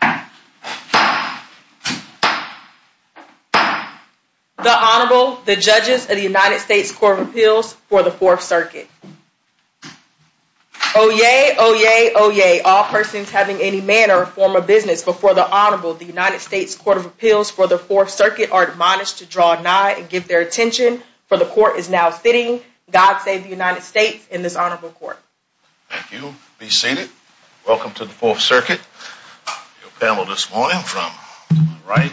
The Honorable, the Judges of the United States Court of Appeals for the Fourth Circuit. Oyez, oyez, oyez, all persons having any manner or form of business before the Honorable of the United States Court of Appeals for the Fourth Circuit are admonished to draw nigh and give their attention, for the Court is now sitting, God save the United States, in this Honorable Court. Thank you. Be seated. Welcome to the Fourth Circuit. Your panel this morning from my right,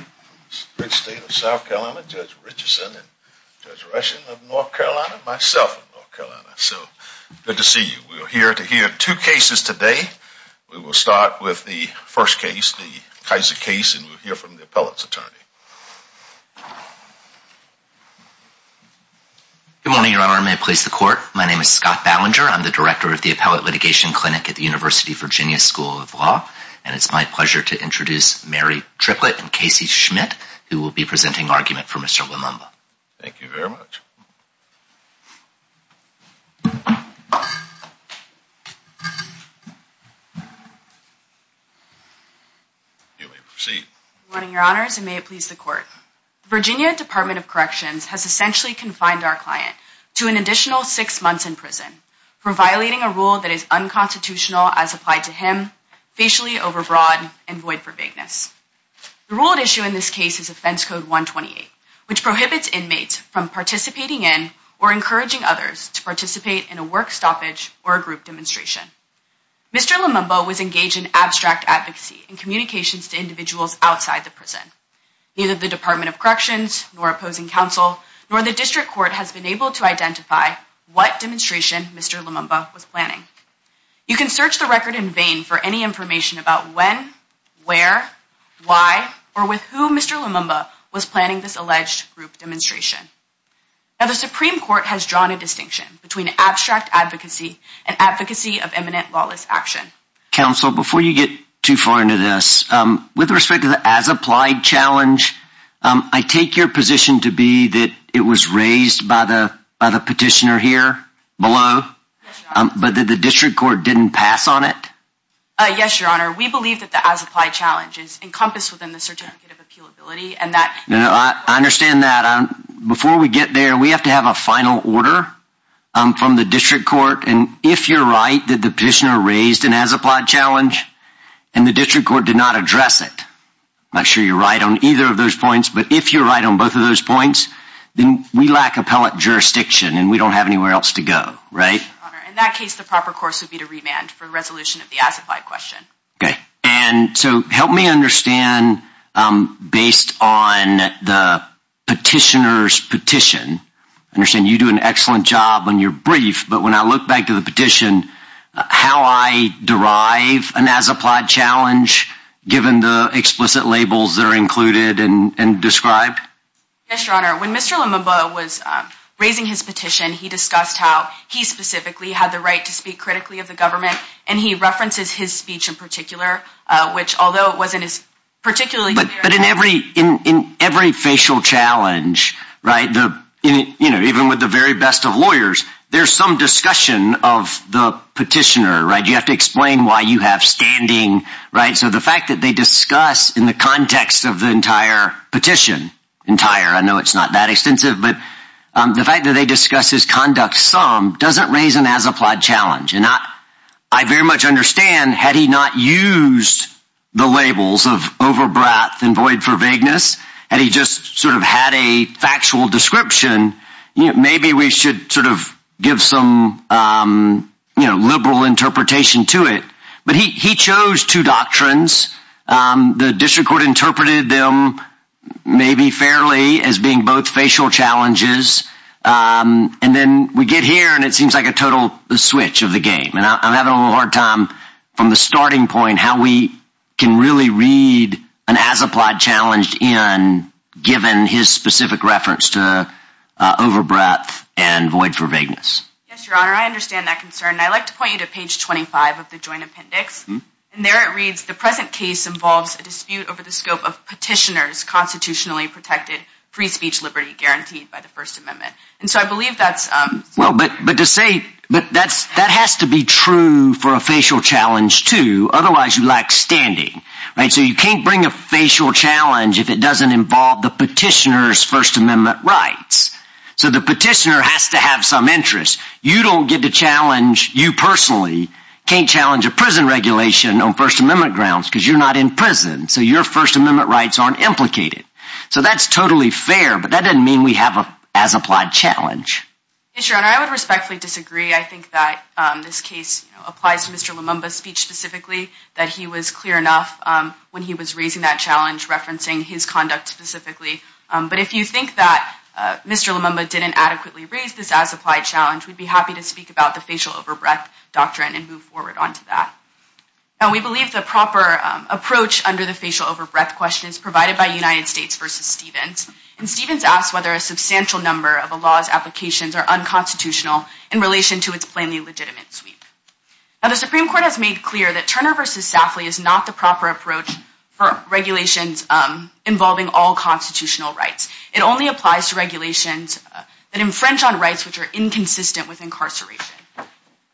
the great state of South Carolina, Judge Richardson and Judge Rushing of North Carolina, myself of North Carolina. So, good to see you. We are here to hear two cases today. We will start with the first case, the Kiser case, and we'll hear from the appellate's attorney. Good morning, Your Honor. May it please the Court, my name is Scott Ballinger. I'm the Director of the Appellate Litigation Clinic at the University of Virginia School of Law, and it's my pleasure to introduce Mary Triplett and Casey Schmidt, who will be presenting argument for Mr. Lumumba. Thank you very much. You may proceed. Good morning, Your Honors, and may it please the Court. The Virginia Department of Corrections has essentially confined our client to an additional six months in prison for violating a rule that is unconstitutional as applied to him, facially overbroad, and void for vagueness. The rule at issue in this case is Offense Code 128, which prohibits inmates from participating in or encouraging others to participate in a work stoppage or a group demonstration. Mr. Lumumba was engaged in abstract advocacy and communications to individuals outside the prison. Neither the Department of Corrections, nor opposing counsel, nor the District Court has been able to identify what demonstration Mr. Lumumba was planning. You can search the record in vain for any information about when, where, why, or with whom Mr. Lumumba was planning this alleged group demonstration. Now, the Supreme Court has drawn a distinction between abstract advocacy and advocacy of eminent lawless action. Counsel, before you get too far into this, with respect to the as-applied challenge, I take your position to be that it was raised by the petitioner here below, but that the District Court didn't pass on it? Yes, Your Honor, we believe that the as-applied challenge is encompassed within the certificate of appealability, and that... I understand that. Before we get there, we have to have a final order from the District Court. And if you're right that the petitioner raised an as-applied challenge and the District Court did not address it, I'm not sure you're right on either of those points, but if you're right on both of those points, then we lack appellate jurisdiction and we don't have anywhere else to go, right? In that case, the proper course would be to remand for the resolution of the as-applied question. Okay. And so help me understand, based on the petitioner's petition, I understand you do an excellent job on your brief, but when I look back to the petition, how I derive an as-applied challenge, given the explicit labels that are included and described? Yes, Your Honor, when Mr. Lumumba was raising his petition, he discussed how he specifically had the right to speak critically of the government, and he references his speech in particular, which although it wasn't as particularly clear... In every facial challenge, right, even with the very best of lawyers, there's some discussion of the petitioner, right? You have to explain why you have standing, right? So the fact that they discuss in the context of the entire petition, entire, I know it's not that extensive, but the fact that they discuss his conduct some doesn't raise an as-applied challenge, and I very much understand had he not used the labels of over-breath and void for vagueness, had he just sort of had a factual description, maybe we should sort of give some liberal interpretation to it. But he chose two doctrines, the district court interpreted them maybe fairly as being both facial challenges, and then we get here and it seems like a total switch of the game, and I'm having a little hard time from the starting point how we can really read an as-applied challenge in, given his specific reference to over-breath and void for vagueness. Yes, Your Honor, I understand that concern, and I'd like to point you to page 25 of the Joint Appendix, and there it reads, the present case involves a dispute over the scope of petitioner's constitutionally protected free speech liberty guaranteed by the First Amendment. Well, but to say, that has to be true for a facial challenge too, otherwise you lack standing. So you can't bring a facial challenge if it doesn't involve the petitioner's First Amendment rights. So the petitioner has to have some interest. You don't get to challenge, you personally can't challenge a prison regulation on First Amendment grounds because you're not in prison, so your First Amendment rights aren't implicated. So that's totally fair, but that doesn't mean we have an as-applied challenge. Yes, Your Honor, I would respectfully disagree. I think that this case applies to Mr. Lumumba's speech specifically, that he was clear enough when he was raising that challenge referencing his conduct specifically. But if you think that Mr. Lumumba didn't adequately raise this as-applied challenge, we'd be happy to speak about the facial over-breath doctrine and move forward onto that. We believe the proper approach under the facial over-breath question is provided by United States v. Stevens, and Stevens asks whether a substantial number of a law's applications are unconstitutional in relation to its plainly legitimate sweep. Now the Supreme Court has made clear that Turner v. Safley is not the proper approach for regulations involving all constitutional rights. It only applies to regulations that infringe on rights which are inconsistent with incarceration.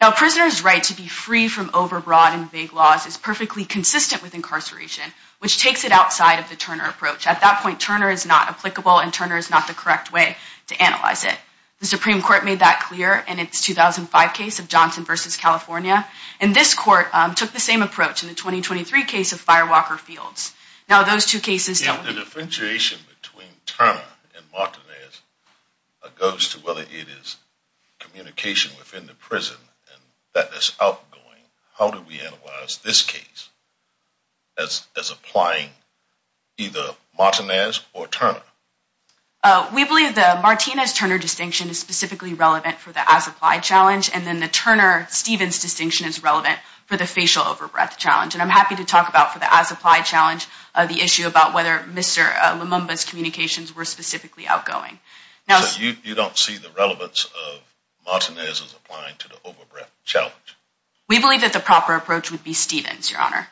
Now a prisoner's right to be free from over-broad and vague laws is perfectly consistent with incarceration, which takes it outside of the Turner approach. At that point, Turner is not applicable and Turner is not the correct way to analyze it. The Supreme Court made that clear in its 2005 case of Johnson v. California, and this Court took the same approach in the 2023 case of Firewalker Fields. The differentiation between Turner and Martinez goes to whether it is communication within the prison that is outgoing. How do we analyze this case as applying either Martinez or Turner? We believe the Martinez-Turner distinction is specifically relevant for the as-applied challenge, and then the Turner-Stevens distinction is relevant for the facial over-breath challenge. And I'm happy to talk about, for the as-applied challenge, the issue about whether Mr. Lumumba's communications were specifically outgoing. So you don't see the relevance of Martinez as applying to the over-breath challenge? We believe that the proper approach would be Stevens, Your Honor.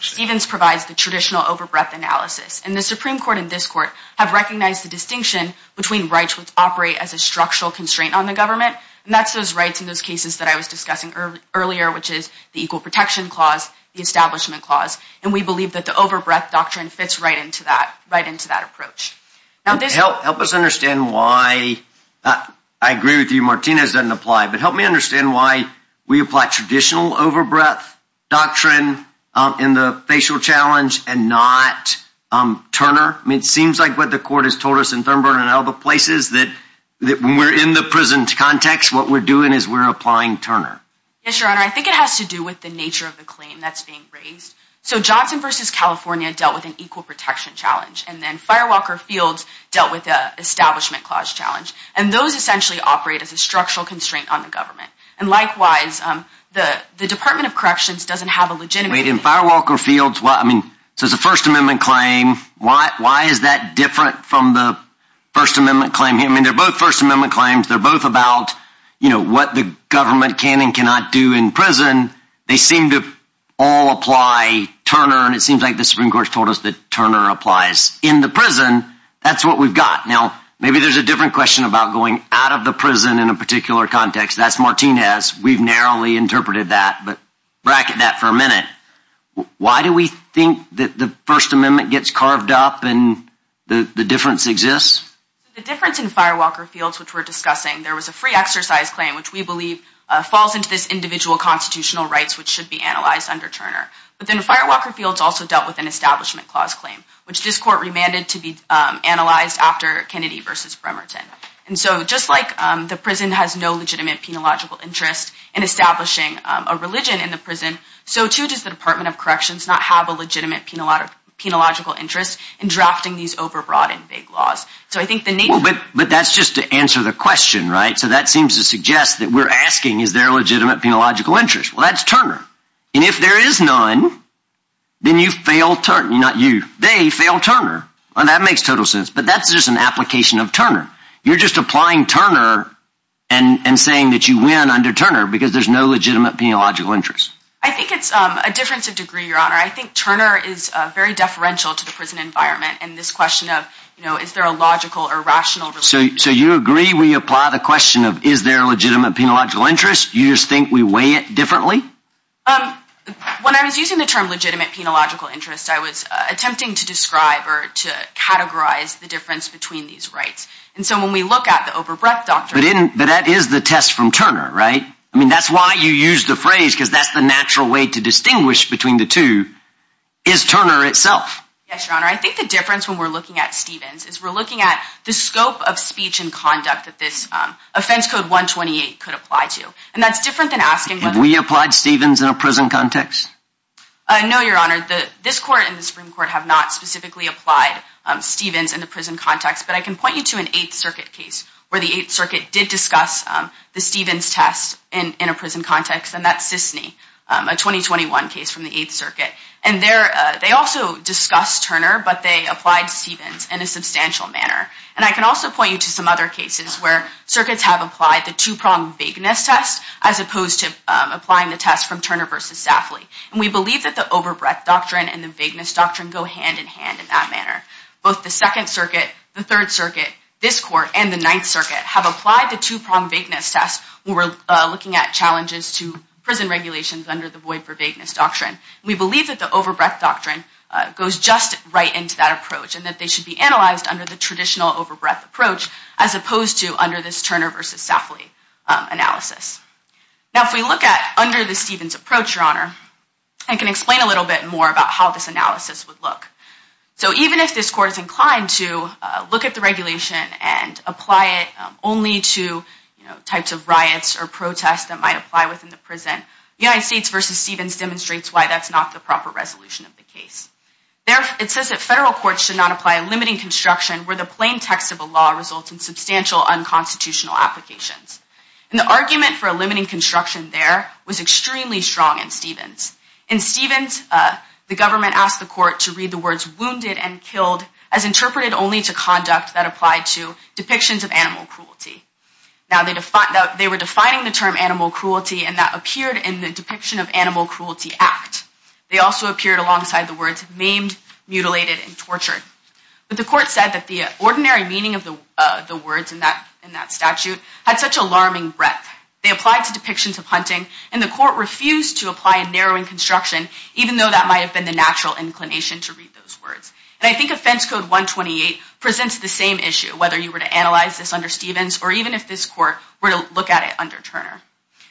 Stevens provides the traditional over-breath analysis. And the Supreme Court and this Court have recognized the distinction between rights which operate as a structural constraint on the government. And that's those rights in those cases that I was discussing earlier, which is the Equal Protection Clause, the Establishment Clause. And we believe that the over-breath doctrine fits right into that approach. Help us understand why, I agree with you, Martinez doesn't apply, but help me understand why we apply traditional over-breath doctrine in the facial challenge and not Turner. I mean, it seems like what the Court has told us in Thurnburg and other places that when we're in the prison context, what we're doing is we're applying Turner. Yes, Your Honor. I think it has to do with the nature of the claim that's being raised. So Johnson v. California dealt with an equal protection challenge. And then Firewalker Fields dealt with the Establishment Clause challenge. And those essentially operate as a structural constraint on the government. And likewise, the Department of Corrections doesn't have a legitimate... Wait, in Firewalker Fields, I mean, so it's a First Amendment claim. Why is that different from the First Amendment claim? I mean, they're both First Amendment claims. They're both about, you know, what the government can and cannot do in prison. They seem to all apply Turner. And it seems like the Supreme Court has told us that Turner applies in the prison. That's what we've got. Now, maybe there's a different question about going out of the prison in a particular context. That's Martinez. We've narrowly interpreted that. But bracket that for a minute. Why do we think that the First Amendment gets carved up and the difference exists? The difference in Firewalker Fields, which we're discussing, there was a free exercise claim, which we believe falls into this individual constitutional rights, which should be analyzed under Turner. But then Firewalker Fields also dealt with an Establishment Clause claim, which this court remanded to be analyzed after Kennedy v. Bremerton. And so just like the prison has no legitimate penological interest in establishing a religion in the prison, so too does the Department of Corrections not have a legitimate penological interest in drafting these overbroad and vague laws. But that's just to answer the question, right? So that seems to suggest that we're asking, is there a legitimate penological interest? Well, that's Turner. And if there is none, then you fail Turner, not you. They fail Turner. And that makes total sense. But that's just an application of Turner. You're just applying Turner and saying that you win under Turner because there's no legitimate penological interest. I think it's a difference of degree, Your Honor. I think Turner is very deferential to the prison environment. And this question of, you know, is there a logical or rational relationship? So you agree we apply the question of, is there a legitimate penological interest? You just think we weigh it differently? When I was using the term legitimate penological interest, I was attempting to describe or to categorize the difference between these rights. And so when we look at the overbreadth doctrine. But that is the test from Turner, right? I mean, that's why you used the phrase because that's the natural way to distinguish between the two. Is Turner itself? Yes, Your Honor. I think the difference when we're looking at Stevens is we're looking at the scope of speech and conduct that this offense code 128 could apply to. And that's different than asking whether. Have we applied Stevens in a prison context? No, Your Honor. This court and the Supreme Court have not specifically applied Stevens in the prison context. But I can point you to an Eighth Circuit case where the Eighth Circuit did discuss the Stevens test in a prison context. And that's Sisney, a 2021 case from the Eighth Circuit. And they also discussed Turner, but they applied Stevens in a substantial manner. And I can also point you to some other cases where circuits have applied the two-pronged vagueness test as opposed to applying the test from Turner versus Safley. And we believe that the overbreadth doctrine and the vagueness doctrine go hand in hand in that manner. Both the Second Circuit, the Third Circuit, this court, and the Ninth Circuit have applied the two-pronged vagueness test when we're looking at challenges to prison regulations under the void for vagueness doctrine. We believe that the overbreadth doctrine goes just right into that approach and that they should be analyzed under the traditional overbreadth approach as opposed to under this Turner versus Safley analysis. Now, if we look at under the Stevens approach, Your Honor, I can explain a little bit more about how this analysis would look. So even if this court is inclined to look at the regulation and apply it only to types of riots or protests that might apply within the prison, United States versus Stevens demonstrates why that's not the proper resolution of the case. It says that federal courts should not apply a limiting construction where the plain text of a law results in substantial unconstitutional applications. And the argument for a limiting construction there was extremely strong in Stevens. In Stevens, the government asked the court to read the words wounded and killed as interpreted only to conduct that applied to depictions of animal cruelty. Now, they were defining the term animal cruelty and that appeared in the depiction of animal cruelty act. They also appeared alongside the words maimed, mutilated, and tortured. But the court said that the ordinary meaning of the words in that statute had such alarming breadth. They applied to depictions of hunting and the court refused to apply a narrowing construction, even though that might have been the natural inclination to read those words. And I think Offense Code 128 presents the same issue, whether you were to analyze this under Stevens or even if this court were to look at it under Turner.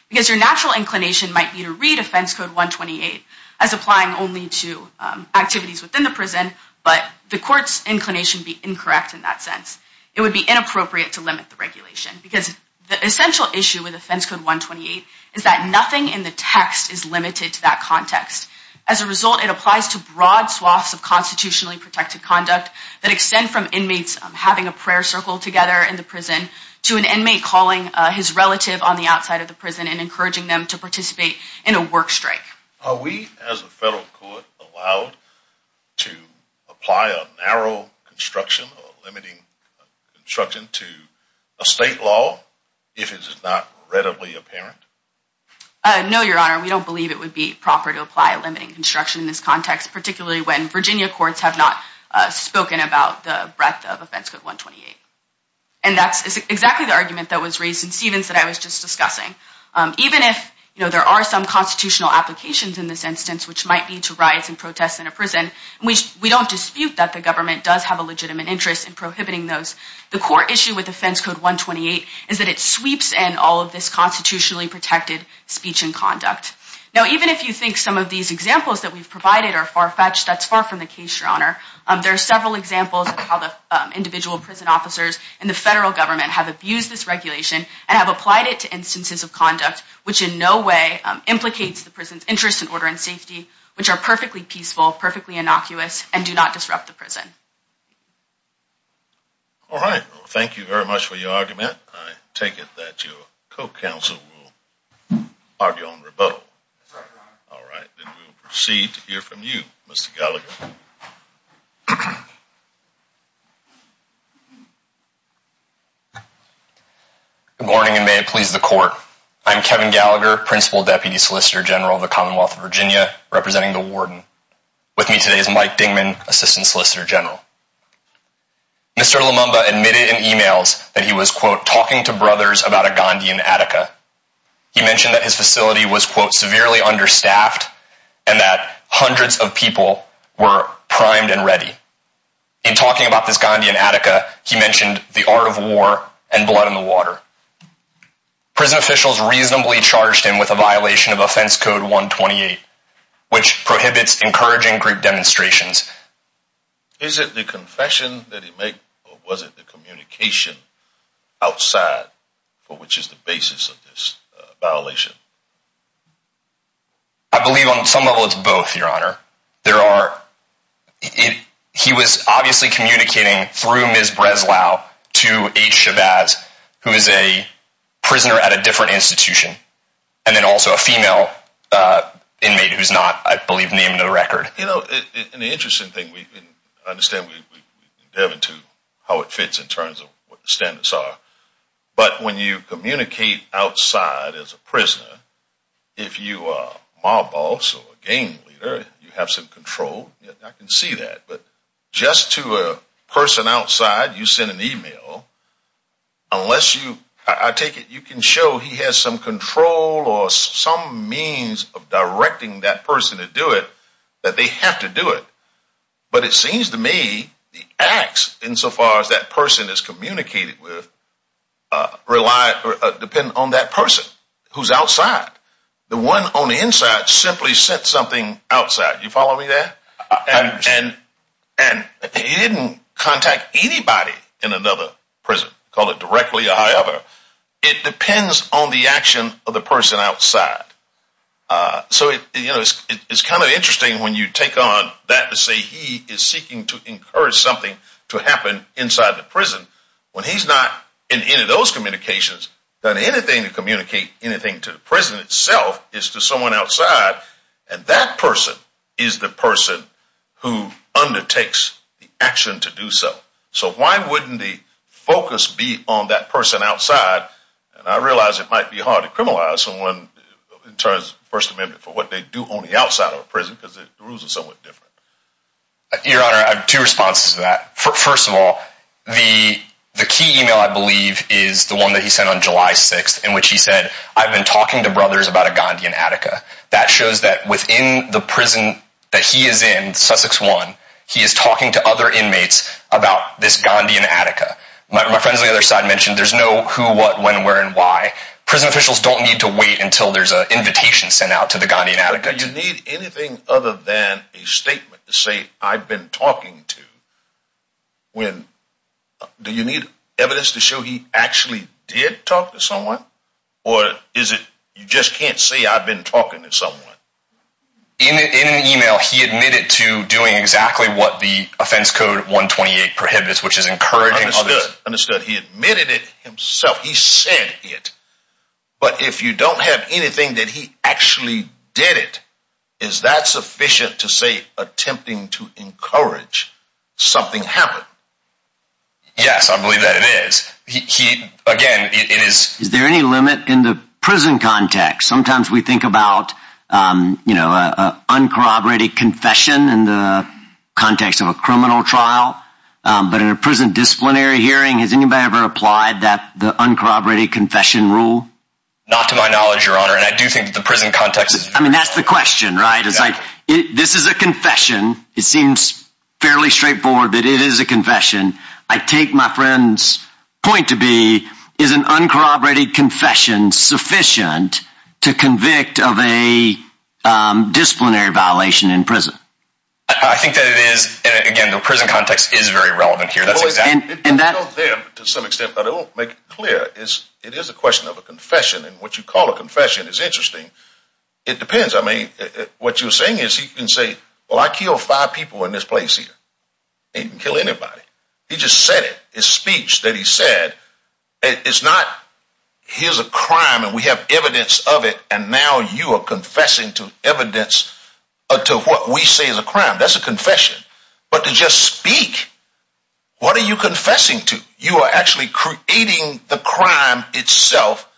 Because your natural inclination might be to read Offense Code 128 as applying only to activities within the prison, but the court's inclination would be incorrect in that sense. It would be inappropriate to limit the regulation because the essential issue with Offense Code 128 is that nothing in the text is limited to that context. As a result, it applies to broad swaths of constitutionally protected conduct that extend from inmates having a prayer circle together in the prison to an inmate calling his relative on the outside of the prison and encouraging them to participate in a work strike. Are we, as a federal court, allowed to apply a narrow construction or limiting construction to a state law if it is not readily apparent? No, Your Honor. We don't believe it would be proper to apply a limiting construction in this context, particularly when Virginia courts have not spoken about the breadth of Offense Code 128. And that's exactly the argument that was raised in Stevens that I was just discussing. Even if there are some constitutional applications in this instance, which might lead to riots and protests in a prison, we don't dispute that the government does have a legitimate interest in prohibiting those. The core issue with Offense Code 128 is that it sweeps in all of this constitutionally protected speech and conduct. Now, even if you think some of these examples that we've provided are far-fetched, that's far from the case, Your Honor. There are several examples of how the individual prison officers and the federal government have abused this regulation and have applied it to instances of conduct which in no way implicates the prison's interest in order and safety, which are perfectly peaceful, perfectly innocuous, and do not disrupt the prison. All right. Well, thank you very much for your argument. I take it that your co-counsel will argue on rebuttal. That's right, Your Honor. All right. Then we'll proceed to hear from you, Mr. Gallagher. Good morning, and may it please the Court. I'm Kevin Gallagher, Principal Deputy Solicitor General of the Commonwealth of Virginia, representing the warden. With me today is Mike Dingman, Assistant Solicitor General. Mr. Lumumba admitted in emails that he was, quote, talking to brothers about a Gandhian Attica. He mentioned that his facility was, quote, severely understaffed and that hundreds of people were primed and ready. In talking about this Gandhian Attica, he mentioned the art of war and blood in the water. Prison officials reasonably charged him with a violation of Offense Code 128, which prohibits encouraging group demonstrations. Is it the confession that he made, or was it the communication outside for which is the basis of this violation? I believe on some level it's both, Your Honor. He was obviously communicating through Ms. Breslau to H. Shabazz, who is a prisoner at a different institution, and then also a female inmate who's not, I believe, named in the record. You know, and the interesting thing, and I understand we can delve into how it fits in terms of what the standards are, but when you communicate outside as a prisoner, if you are a mob boss or a gang leader, you have some control. I can see that. But just to a person outside, you send an email, unless you – I take it you can show he has some control or some means of directing that person to do it, that they have to do it. But it seems to me the acts insofar as that person is communicated with rely – depend on that person who's outside. The one on the inside simply sent something outside. You follow me there? I understand. And he didn't contact anybody in another prison. He called it directly a high-other. It depends on the action of the person outside. So, you know, it's kind of interesting when you take on that to say he is seeking to encourage something to happen inside the prison, when he's not, in any of those communications, done anything to communicate anything to the prison itself is to someone outside, and that person is the person who undertakes the action to do so. So why wouldn't the focus be on that person outside? And I realize it might be hard to criminalize someone in terms of the First Amendment for what they do on the outside of a prison because the rules are somewhat different. Your Honor, I have two responses to that. First of all, the key email, I believe, is the one that he sent on July 6th in which he said, I've been talking to brothers about a Gandhian Attica. That shows that within the prison that he is in, Sussex 1, he is talking to other inmates about this Gandhian Attica. My friends on the other side mentioned there's no who, what, when, where, and why. Prison officials don't need to wait until there's an invitation sent out to the Gandhian Attica. Do you need anything other than a statement to say I've been talking to? Do you need evidence to show he actually did talk to someone? Or is it you just can't say I've been talking to someone? In an email, he admitted to doing exactly what the offense code 128 prohibits, which is encouraging others. Understood. He admitted it himself. He said it. But if you don't have anything that he actually did it, is that sufficient to say attempting to encourage something happen? Yes, I believe that it is. He, again, it is. Is there any limit in the prison context? Sometimes we think about, you know, a uncorroborated confession in the context of a criminal trial. But in a prison disciplinary hearing, has anybody ever applied that the uncorroborated confession rule? Not to my knowledge, Your Honor, and I do think the prison context. I mean, that's the question, right? It's like this is a confession. It seems fairly straightforward that it is a confession. I take my friend's point to be is an uncorroborated confession sufficient to convict of a disciplinary violation in prison? I think that it is. Again, the prison context is very relevant here. And that to some extent, but it won't make it clear is it is a question of a confession. And what you call a confession is interesting. It depends. I mean, what you're saying is you can say, well, I kill five people in this place here. I didn't kill anybody. He just said it. His speech that he said, it's not, here's a crime and we have evidence of it. And now you are confessing to evidence to what we say is a crime. That's a confession. But to just speak, what are you confessing to? You are actually creating the crime itself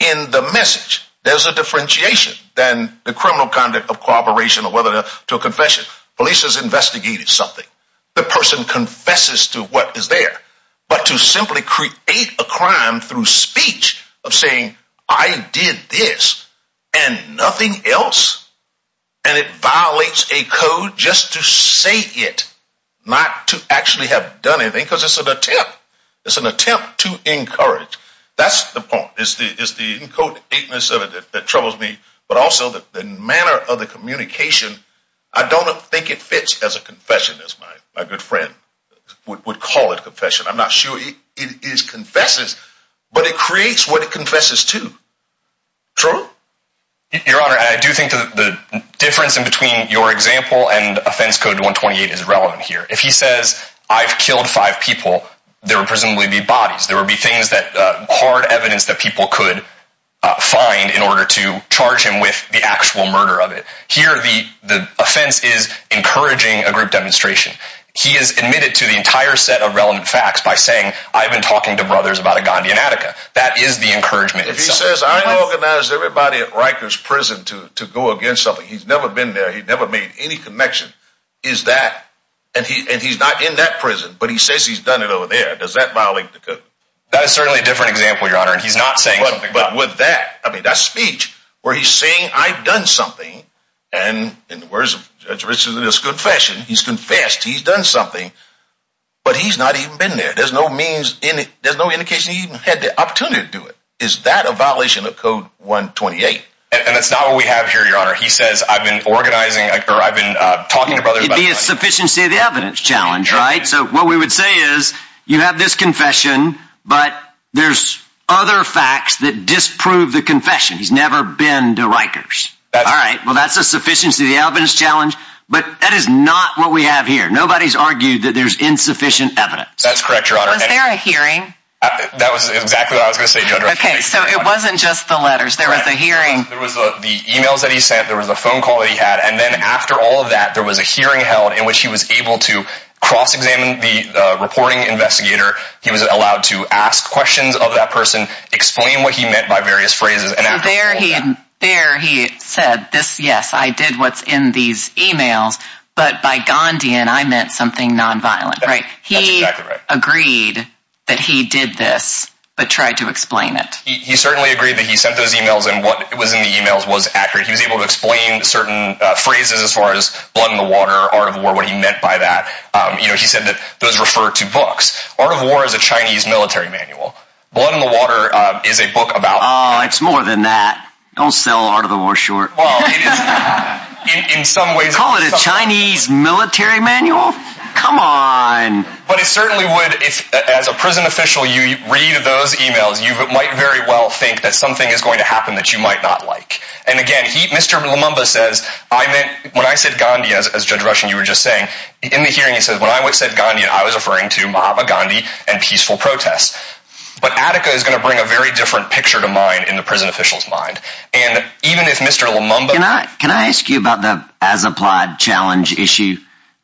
in the message. There's a differentiation than the criminal conduct of corroboration or whether to a confession. Police has investigated something. The person confesses to what is there. But to simply create a crime through speech of saying, I did this and nothing else. And it violates a code just to say it, not to actually have done anything. Because it's an attempt. It's an attempt to encourage. That's the point. It's the encodedness of it that troubles me. But also the manner of the communication. I don't think it fits as a confession as my good friend would call it confession. I'm not sure it is confesses, but it creates what it confesses to. True. Your Honor, I do think the difference in between your example and offense code 128 is relevant here. If he says, I've killed five people, there will presumably be bodies. There will be things that hard evidence that people could find in order to charge him with the actual murder of it. Here, the offense is encouraging a group demonstration. He is admitted to the entire set of relevant facts by saying, I've been talking to brothers about a Gandhian Attica. That is the encouragement. If he says, I organized everybody at Riker's prison to go against something. He's never been there. He never made any connection. Is that. And he's not in that prison. But he says he's done it over there. Does that violate the code? That is certainly a different example, Your Honor. And he's not saying. But with that, I mean, that speech where he's saying, I've done something. And in the words of this confession, he's confessed. He's done something. But he's not even been there. There's no means in it. There's no indication he even had the opportunity to do it. Is that a violation of code 128? And that's not what we have here, Your Honor. He says, I've been organizing or I've been talking to brothers. It would be a sufficiency of the evidence challenge, right? So what we would say is, you have this confession. But there's other facts that disprove the confession. He's never been to Riker's. All right. Well, that's a sufficiency of the evidence challenge. But that is not what we have here. Nobody's argued that there's insufficient evidence. That's correct, Your Honor. Was there a hearing? That was exactly what I was going to say, Judge. OK. So it wasn't just the letters. There was a hearing. There was the emails that he sent. There was a phone call that he had. And then after all of that, there was a hearing held in which he was able to cross-examine the reporting investigator. He was allowed to ask questions of that person, explain what he meant by various phrases. So there he said, yes, I did what's in these emails. But by Gandhian, I meant something nonviolent, right? That's exactly right. He agreed that he did this but tried to explain it. He certainly agreed that he sent those emails and what was in the emails was accurate. He was able to explain certain phrases as far as blood in the water, art of war, what he meant by that. He said that those refer to books. Art of War is a Chinese military manual. Blood in the Water is a book about— Oh, it's more than that. Don't sell Art of the War short. Well, in some ways— Call it a Chinese military manual? Come on. But it certainly would, as a prison official, you read those emails, you might very well think that something is going to happen that you might not like. And again, Mr. Lumumba says, when I said Gandhian, as Judge Rushen, you were just saying, in the hearing he said, when I said Gandhian, I was referring to Mahatma Gandhi and peaceful protests. But Attica is going to bring a very different picture to mind in the prison official's mind. And even if Mr. Lumumba— Can I ask you about the as-applied challenge issue?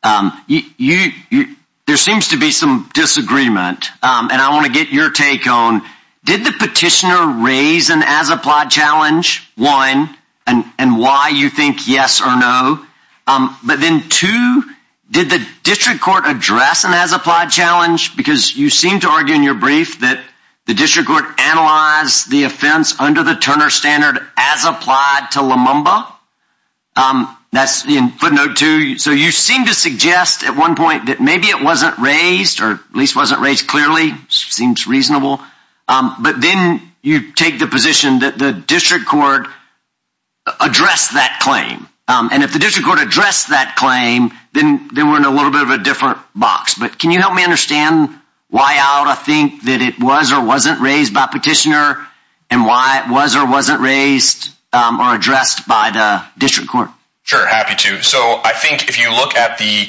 There seems to be some disagreement, and I want to get your take on, did the petitioner raise an as-applied challenge? One, and why you think yes or no. But then two, did the district court address an as-applied challenge? Because you seem to argue in your brief that the district court analyzed the offense under the Turner Standard as applied to Lumumba. That's in footnote two. So you seem to suggest at one point that maybe it wasn't raised, or at least wasn't raised clearly. Seems reasonable. But then you take the position that the district court addressed that claim. And if the district court addressed that claim, then we're in a little bit of a different box. But can you help me understand why I think that it was or wasn't raised by petitioner, and why it was or wasn't raised or addressed by the district court? Sure, happy to. So I think if you look at the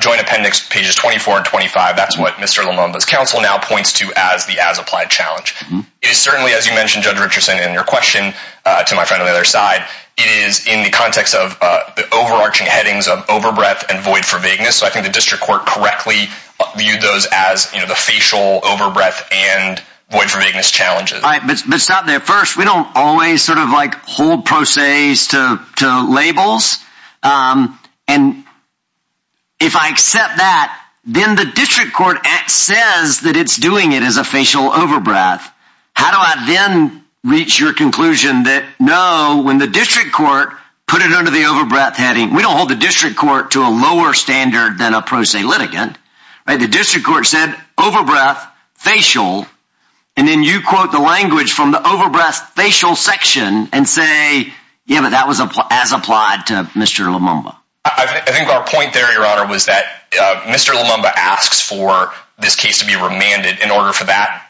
joint appendix, pages 24 and 25, that's what Mr. Lumumba's counsel now points to as the as-applied challenge. It is certainly, as you mentioned, Judge Richardson, in your question to my friend on the other side, it is in the context of the overarching headings of overbreath and void for vagueness. So I think the district court correctly viewed those as the facial overbreath and void for vagueness challenges. But stop there. First, we don't always sort of like hold pro ses to labels. And if I accept that, then the district court says that it's doing it as a facial overbreath. How do I then reach your conclusion that no, when the district court put it under the overbreath heading, we don't hold the district court to a lower standard than a pro se litigant. The district court said overbreath, facial, and then you quote the language from the overbreath facial section and say, yeah, but that was as applied to Mr. Lumumba. I think our point there, Your Honor, was that Mr. Lumumba asks for this case to be remanded in order for that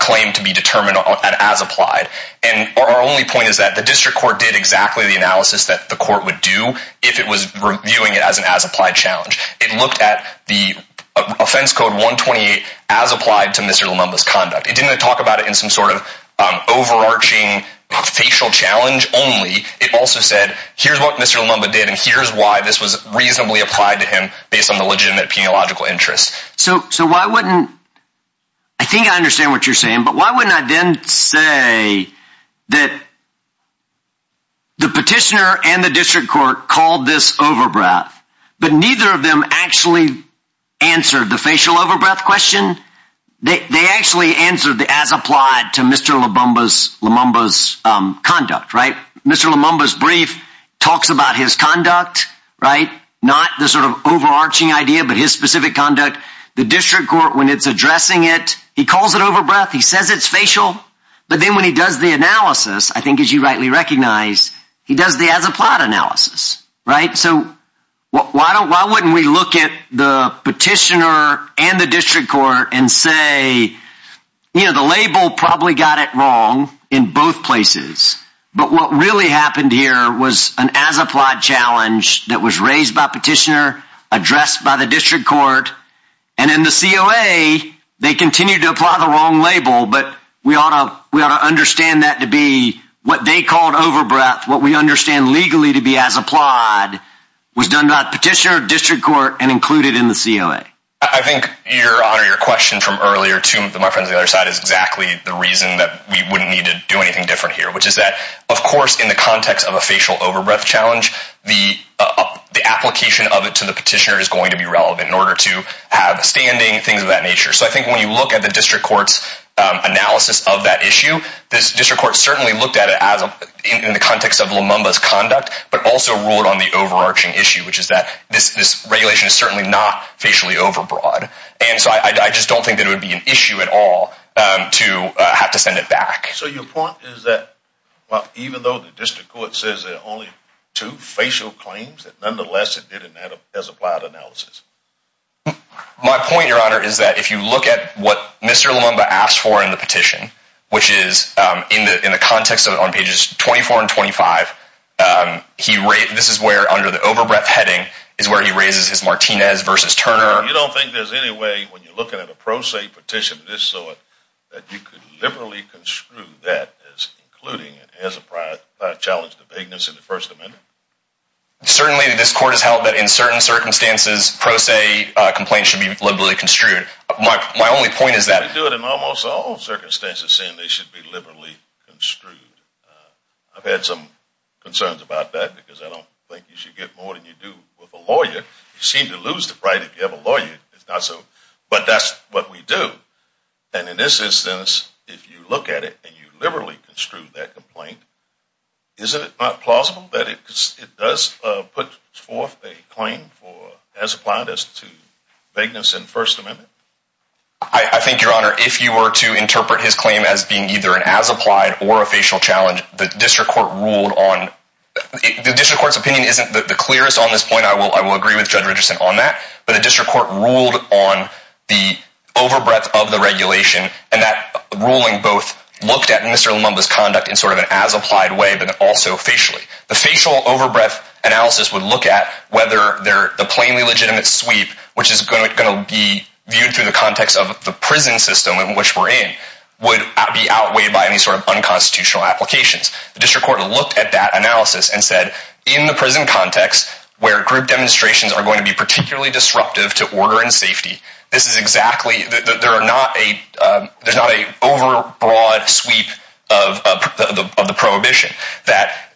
claim to be determined as applied. And our only point is that the district court did exactly the analysis that the court would do if it was reviewing it as an as-applied challenge. It looked at the offense code 128 as applied to Mr. Lumumba's conduct. It didn't talk about it in some sort of overarching facial challenge only. It also said, here's what Mr. Lumumba did and here's why this was reasonably applied to him based on the legitimate peniological interests. So so why wouldn't I think I understand what you're saying, but why wouldn't I then say that? The petitioner and the district court called this overbreath, but neither of them actually answered the facial overbreath question. They actually answered the as applied to Mr. Lumumba's conduct. Right. Mr. Lumumba's brief talks about his conduct. Right. Not the sort of overarching idea, but his specific conduct. The district court, when it's addressing it, he calls it overbreath. He says it's facial. But then when he does the analysis, I think, as you rightly recognize, he does the as applied analysis. Right. So why don't why wouldn't we look at the petitioner and the district court and say, you know, the label probably got it wrong in both places. But what really happened here was an as applied challenge that was raised by petitioner addressed by the district court. And then the COA, they continued to apply the wrong label. But we ought to we ought to understand that to be what they called overbreath. What we understand legally to be as applied was done by petitioner, district court and included in the COA. I think your honor, your question from earlier to my friends the other side is exactly the reason that we wouldn't need to do anything different here, which is that, of course, in the context of a facial overbreath challenge, the the application of it to the petitioner is going to be relevant in order to have standing things of that nature. So I think when you look at the district court's analysis of that issue, this district court certainly looked at it as in the context of Lumumba's conduct, but also ruled on the overarching issue, which is that this this regulation is certainly not facially overbroad. And so I just don't think that it would be an issue at all to have to send it back. So your point is that even though the district court says there are only two facial claims that nonetheless, it didn't add up as applied analysis. My point, your honor, is that if you look at what Mr. Lumumba asked for in the petition, which is in the in the context of on pages twenty four and twenty five, he this is where under the overbreath heading is where he raises his Martinez versus Turner. You don't think there's any way when you're looking at a pro se petition of this sort that you could liberally construe that as including it as a prior challenge to vagueness in the First Amendment? Certainly, this court has held that in certain circumstances, pro se complaints should be liberally construed. My only point is that I do it in almost all circumstances saying they should be liberally construed. I've had some concerns about that because I don't think you should get more than you do with a lawyer. You seem to lose the right if you have a lawyer. It's not so. But that's what we do. And in this instance, if you look at it and you liberally construe that complaint, isn't it not plausible that it does put forth a claim for as applied as to vagueness in First Amendment? I think, your honor, if you were to interpret his claim as being either an as applied or a facial challenge, the district court's opinion isn't the clearest on this point. I will agree with Judge Richardson on that. But the district court ruled on the over breadth of the regulation. And that ruling both looked at Mr. Lumumba's conduct in sort of an as applied way, but also facially. The facial over breadth analysis would look at whether the plainly legitimate sweep, which is going to be viewed through the context of the prison system in which we're in, would be outweighed by any sort of unconstitutional applications. The district court looked at that analysis and said, in the prison context, where group demonstrations are going to be particularly disruptive to order and safety, there's not an over broad sweep of the prohibition that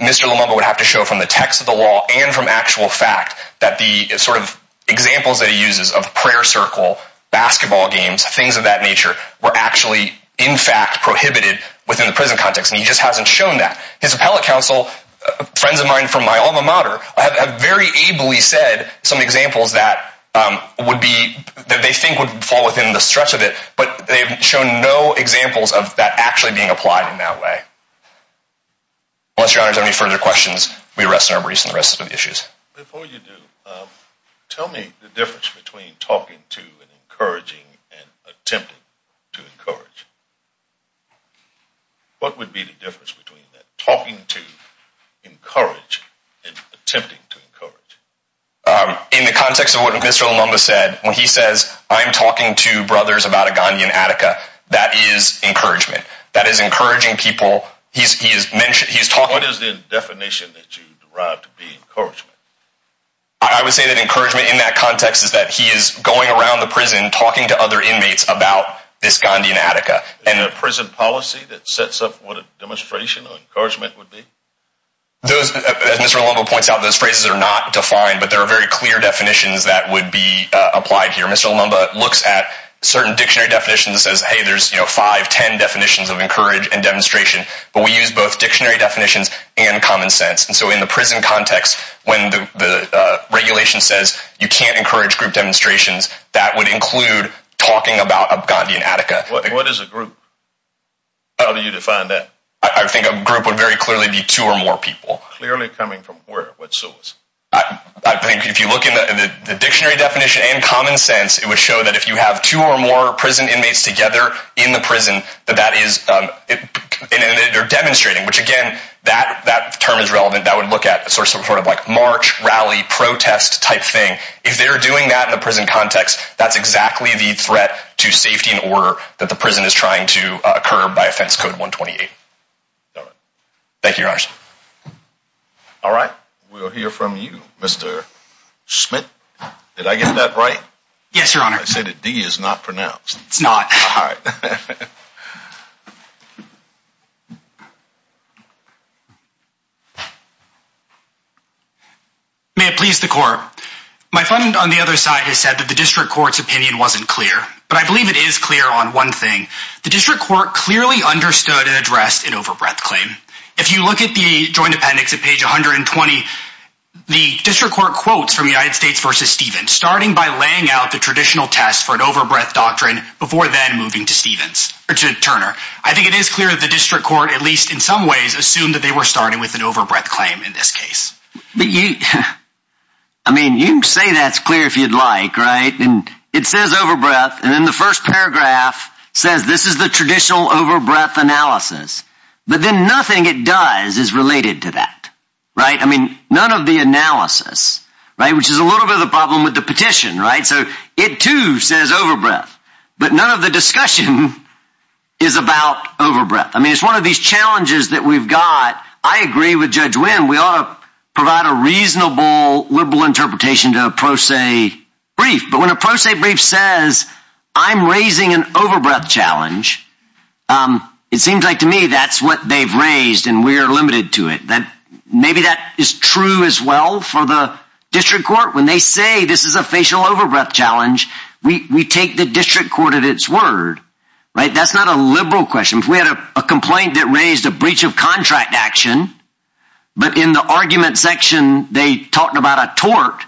Mr. Lumumba would have to show from the text of the law and from actual fact that the sort of examples that he uses of prayer circle, basketball games, things of that nature, were actually in fact prohibited within the prison context. And he just hasn't shown that. His appellate counsel, friends of mine from my alma mater, have very ably said some examples that would be, that they think would fall within the stretch of it, but they've shown no examples of that actually being applied in that way. Unless your honors have any further questions, we rest in our briefs on the rest of the issues. Before you do, tell me the difference between talking to and encouraging and attempting to encourage. What would be the difference between that, talking to, encouraging, and attempting to encourage? In the context of what Mr. Lumumba said, when he says, I'm talking to brothers about Agony and Attica, that is encouragement. That is encouraging people. He's talking... What is the definition that you derive to be encouragement? I would say that encouragement in that context is that he is going around the prison, talking to other inmates about this Gandhian Attica. Is there a prison policy that sets up what a demonstration or encouragement would be? Those, as Mr. Lumumba points out, those phrases are not defined, but there are very clear definitions that would be applied here. Mr. Lumumba looks at certain dictionary definitions and says, hey, there's five, ten definitions of encourage and demonstration, but we use both dictionary definitions and common sense. And so in the prison context, when the regulation says you can't encourage group demonstrations, that would include talking about a Gandhian Attica. What is a group? How do you define that? I think a group would very clearly be two or more people. Clearly coming from where? What source? I think if you look in the dictionary definition and common sense, it would show that if you have two or more prison inmates together in the prison, that that is demonstrating, which again, that term is relevant. That would look at sort of like march, rally, protest type thing. If they're doing that in the prison context, that's exactly the threat to safety and order that the prison is trying to curb by offense code 128. Thank you, Your Honors. All right. We'll hear from you, Mr. Schmidt. Did I get that right? Yes, Your Honor. I said that D is not pronounced. It's not. May it please the court. My friend on the other side has said that the district court's opinion wasn't clear, but I believe it is clear on one thing. The district court clearly understood and addressed an overbreath claim. If you look at the joint appendix at page 120, the district court quotes from United States versus Stephen, starting by laying out the traditional test for an overbreath doctrine before then moving to Stephen's or to Turner. I think it is clear that the district court, at least in some ways, assumed that they were starting with an overbreath claim in this case. But you I mean, you say that's clear if you'd like. Right. And it says overbreath. And then the first paragraph says this is the traditional overbreath analysis. But then nothing it does is related to that. Right. I mean, none of the analysis. Right. Which is a little bit of a problem with the petition. Right. So it, too, says overbreath. But none of the discussion is about overbreath. I mean, it's one of these challenges that we've got. I agree with Judge Wynn. We ought to provide a reasonable liberal interpretation to a pro se brief. But when a pro se brief says I'm raising an overbreath challenge, it seems like to me that's what they've raised and we're limited to it. And maybe that is true as well for the district court. When they say this is a facial overbreath challenge, we take the district court at its word. Right. That's not a liberal question. We had a complaint that raised a breach of contract action. But in the argument section, they talked about a tort.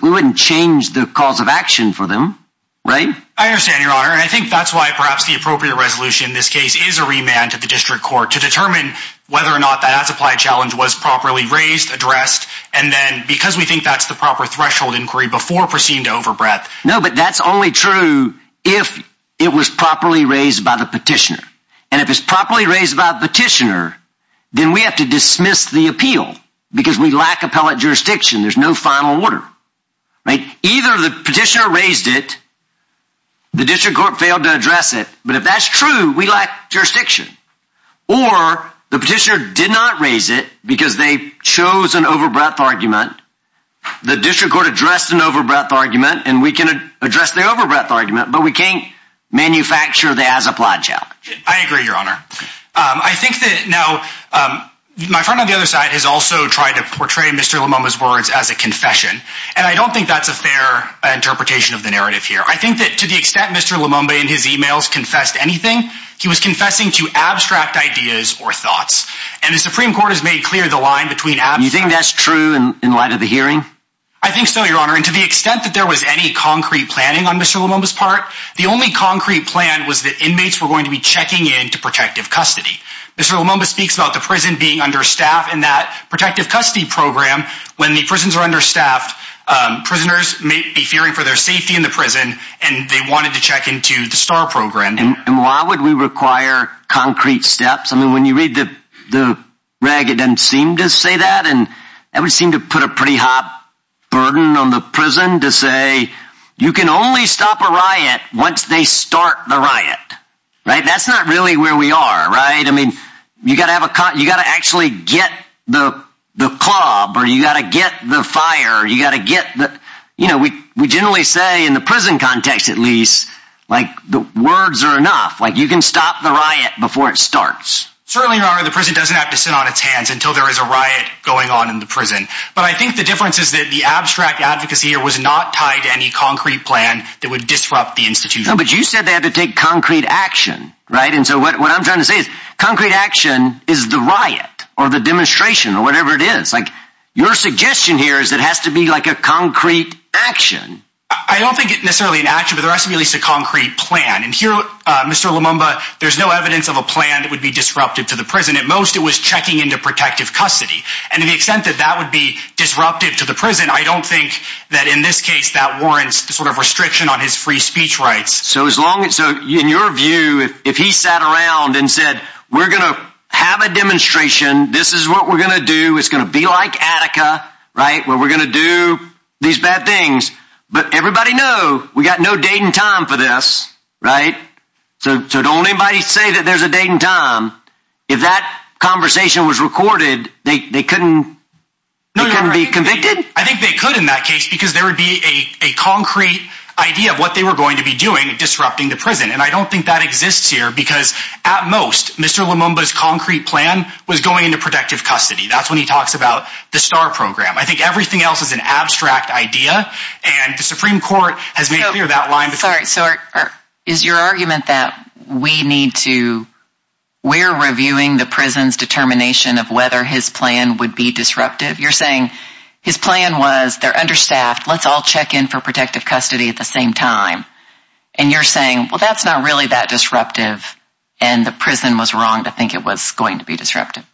We wouldn't change the cause of action for them. Right. I understand, Your Honor. And I think that's why perhaps the appropriate resolution in this case is a remand to the district court to determine whether or not that supply challenge was properly raised, addressed. And then because we think that's the proper threshold inquiry before proceeding to overbreath. No, but that's only true if it was properly raised by the petitioner. And if it's properly raised by the petitioner, then we have to dismiss the appeal because we lack appellate jurisdiction. There's no final order. Either the petitioner raised it. The district court failed to address it. But if that's true, we lack jurisdiction or the petitioner did not raise it because they chose an overbreath argument. The district court addressed an overbreath argument and we can address the overbreath argument, but we can't manufacture the as applied challenge. I agree, Your Honor. I think that now my friend on the other side has also tried to portray Mr. Lumumba's words as a confession. And I don't think that's a fair interpretation of the narrative here. I think that to the extent Mr. Lumumba in his emails confessed anything, he was confessing to abstract ideas or thoughts. And the Supreme Court has made clear the line between. You think that's true in light of the hearing? I think so, Your Honor. And to the extent that there was any concrete planning on Mr. Lumumba's part, the only concrete plan was that inmates were going to be checking in to protective custody. Mr. Lumumba speaks about the prison being understaffed in that protective custody program. When the prisons are understaffed, prisoners may be fearing for their safety in the prison and they wanted to check into the star program. And why would we require concrete steps? I mean, when you read the rag, it doesn't seem to say that. And I would seem to put a pretty hot burden on the prison to say you can only stop a riot once they start the riot. Right. That's not really where we are. Right. I mean, you got to have a you got to actually get the the club or you got to get the fire. You got to get that. You know, we we generally say in the prison context, at least, like the words are enough, like you can stop the riot before it starts. Certainly, Your Honor, the prison doesn't have to sit on its hands until there is a riot going on in the prison. But I think the difference is that the abstract advocacy here was not tied to any concrete plan that would disrupt the institution. But you said they had to take concrete action. Right. And so what I'm trying to say is concrete action is the riot or the demonstration or whatever it is like your suggestion here is it has to be like a concrete action. I don't think it necessarily an action, but there has to be at least a concrete plan. And here, Mr. Lumumba, there's no evidence of a plan that would be disruptive to the prison. At most, it was checking into protective custody. And to the extent that that would be disruptive to the prison, I don't think that in this case that warrants the sort of restriction on his free speech rights. So as long as so in your view, if he sat around and said, we're going to have a demonstration, this is what we're going to do. It's going to be like Attica. Right. Well, we're going to do these bad things. But everybody know we got no date and time for this. Right. So don't anybody say that there's a date and time. If that conversation was recorded, they couldn't be convicted. I think they could in that case because there would be a concrete idea of what they were going to be doing, disrupting the prison. And I don't think that exists here because at most, Mr. Lumumba's concrete plan was going into protective custody. That's when he talks about the star program. I think everything else is an abstract idea. And the Supreme Court has made clear that line. Sorry. So is your argument that we need to we're reviewing the prison's determination of whether his plan would be disruptive? You're saying his plan was they're understaffed. Let's all check in for protective custody at the same time. And you're saying, well, that's not really that disruptive. And the prison was wrong to think it was going to be disruptive.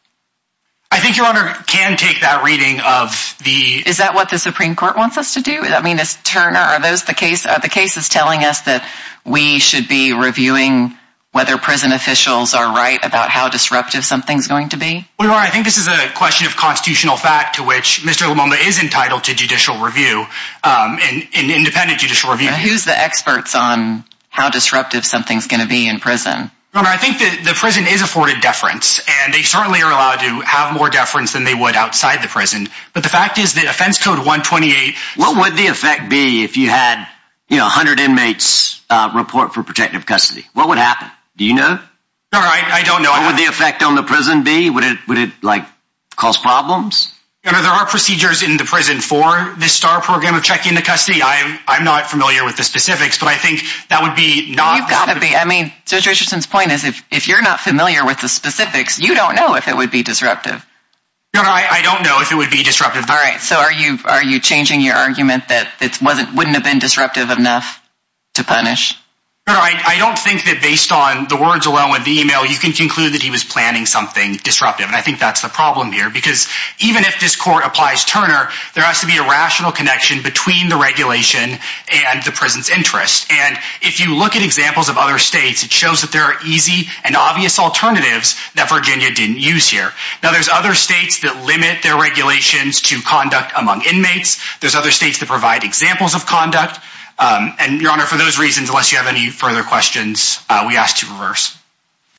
I think your honor can take that reading of the. Is that what the Supreme Court wants us to do? I mean, it's Turner. Are those the case? The case is telling us that we should be reviewing whether prison officials are right about how disruptive something's going to be. I think this is a question of constitutional fact to which Mr. Lumumba is entitled to judicial review and independent judicial review. He's the experts on how disruptive something's going to be in prison. I think that the prison is afforded deference and they certainly are allowed to have more deference than they would outside the prison. But the fact is that offense code 128. What would the effect be if you had, you know, 100 inmates report for protective custody? What would happen? Do you know? All right. I don't know. What would the effect on the prison be? Would it would it like cause problems? There are procedures in the prison for this star program of checking the custody. I'm not familiar with the specifics, but I think that would be not. You've got to be. I mean, Judge Richardson's point is if if you're not familiar with the specifics, you don't know if it would be disruptive. I don't know if it would be disruptive. All right. So are you are you changing your argument that it wasn't wouldn't have been disruptive enough to punish? All right. I don't think that based on the words alone with the email, you can conclude that he was planning something disruptive. And I think that's the problem here, because even if this court applies, Turner, there has to be a rational connection between the regulation and the prison's interest. And if you look at examples of other states, it shows that there are easy and obvious alternatives that Virginia didn't use here. Now, there's other states that limit their regulations to conduct among inmates. There's other states that provide examples of conduct. And your honor, for those reasons, unless you have any further questions, we ask to reverse.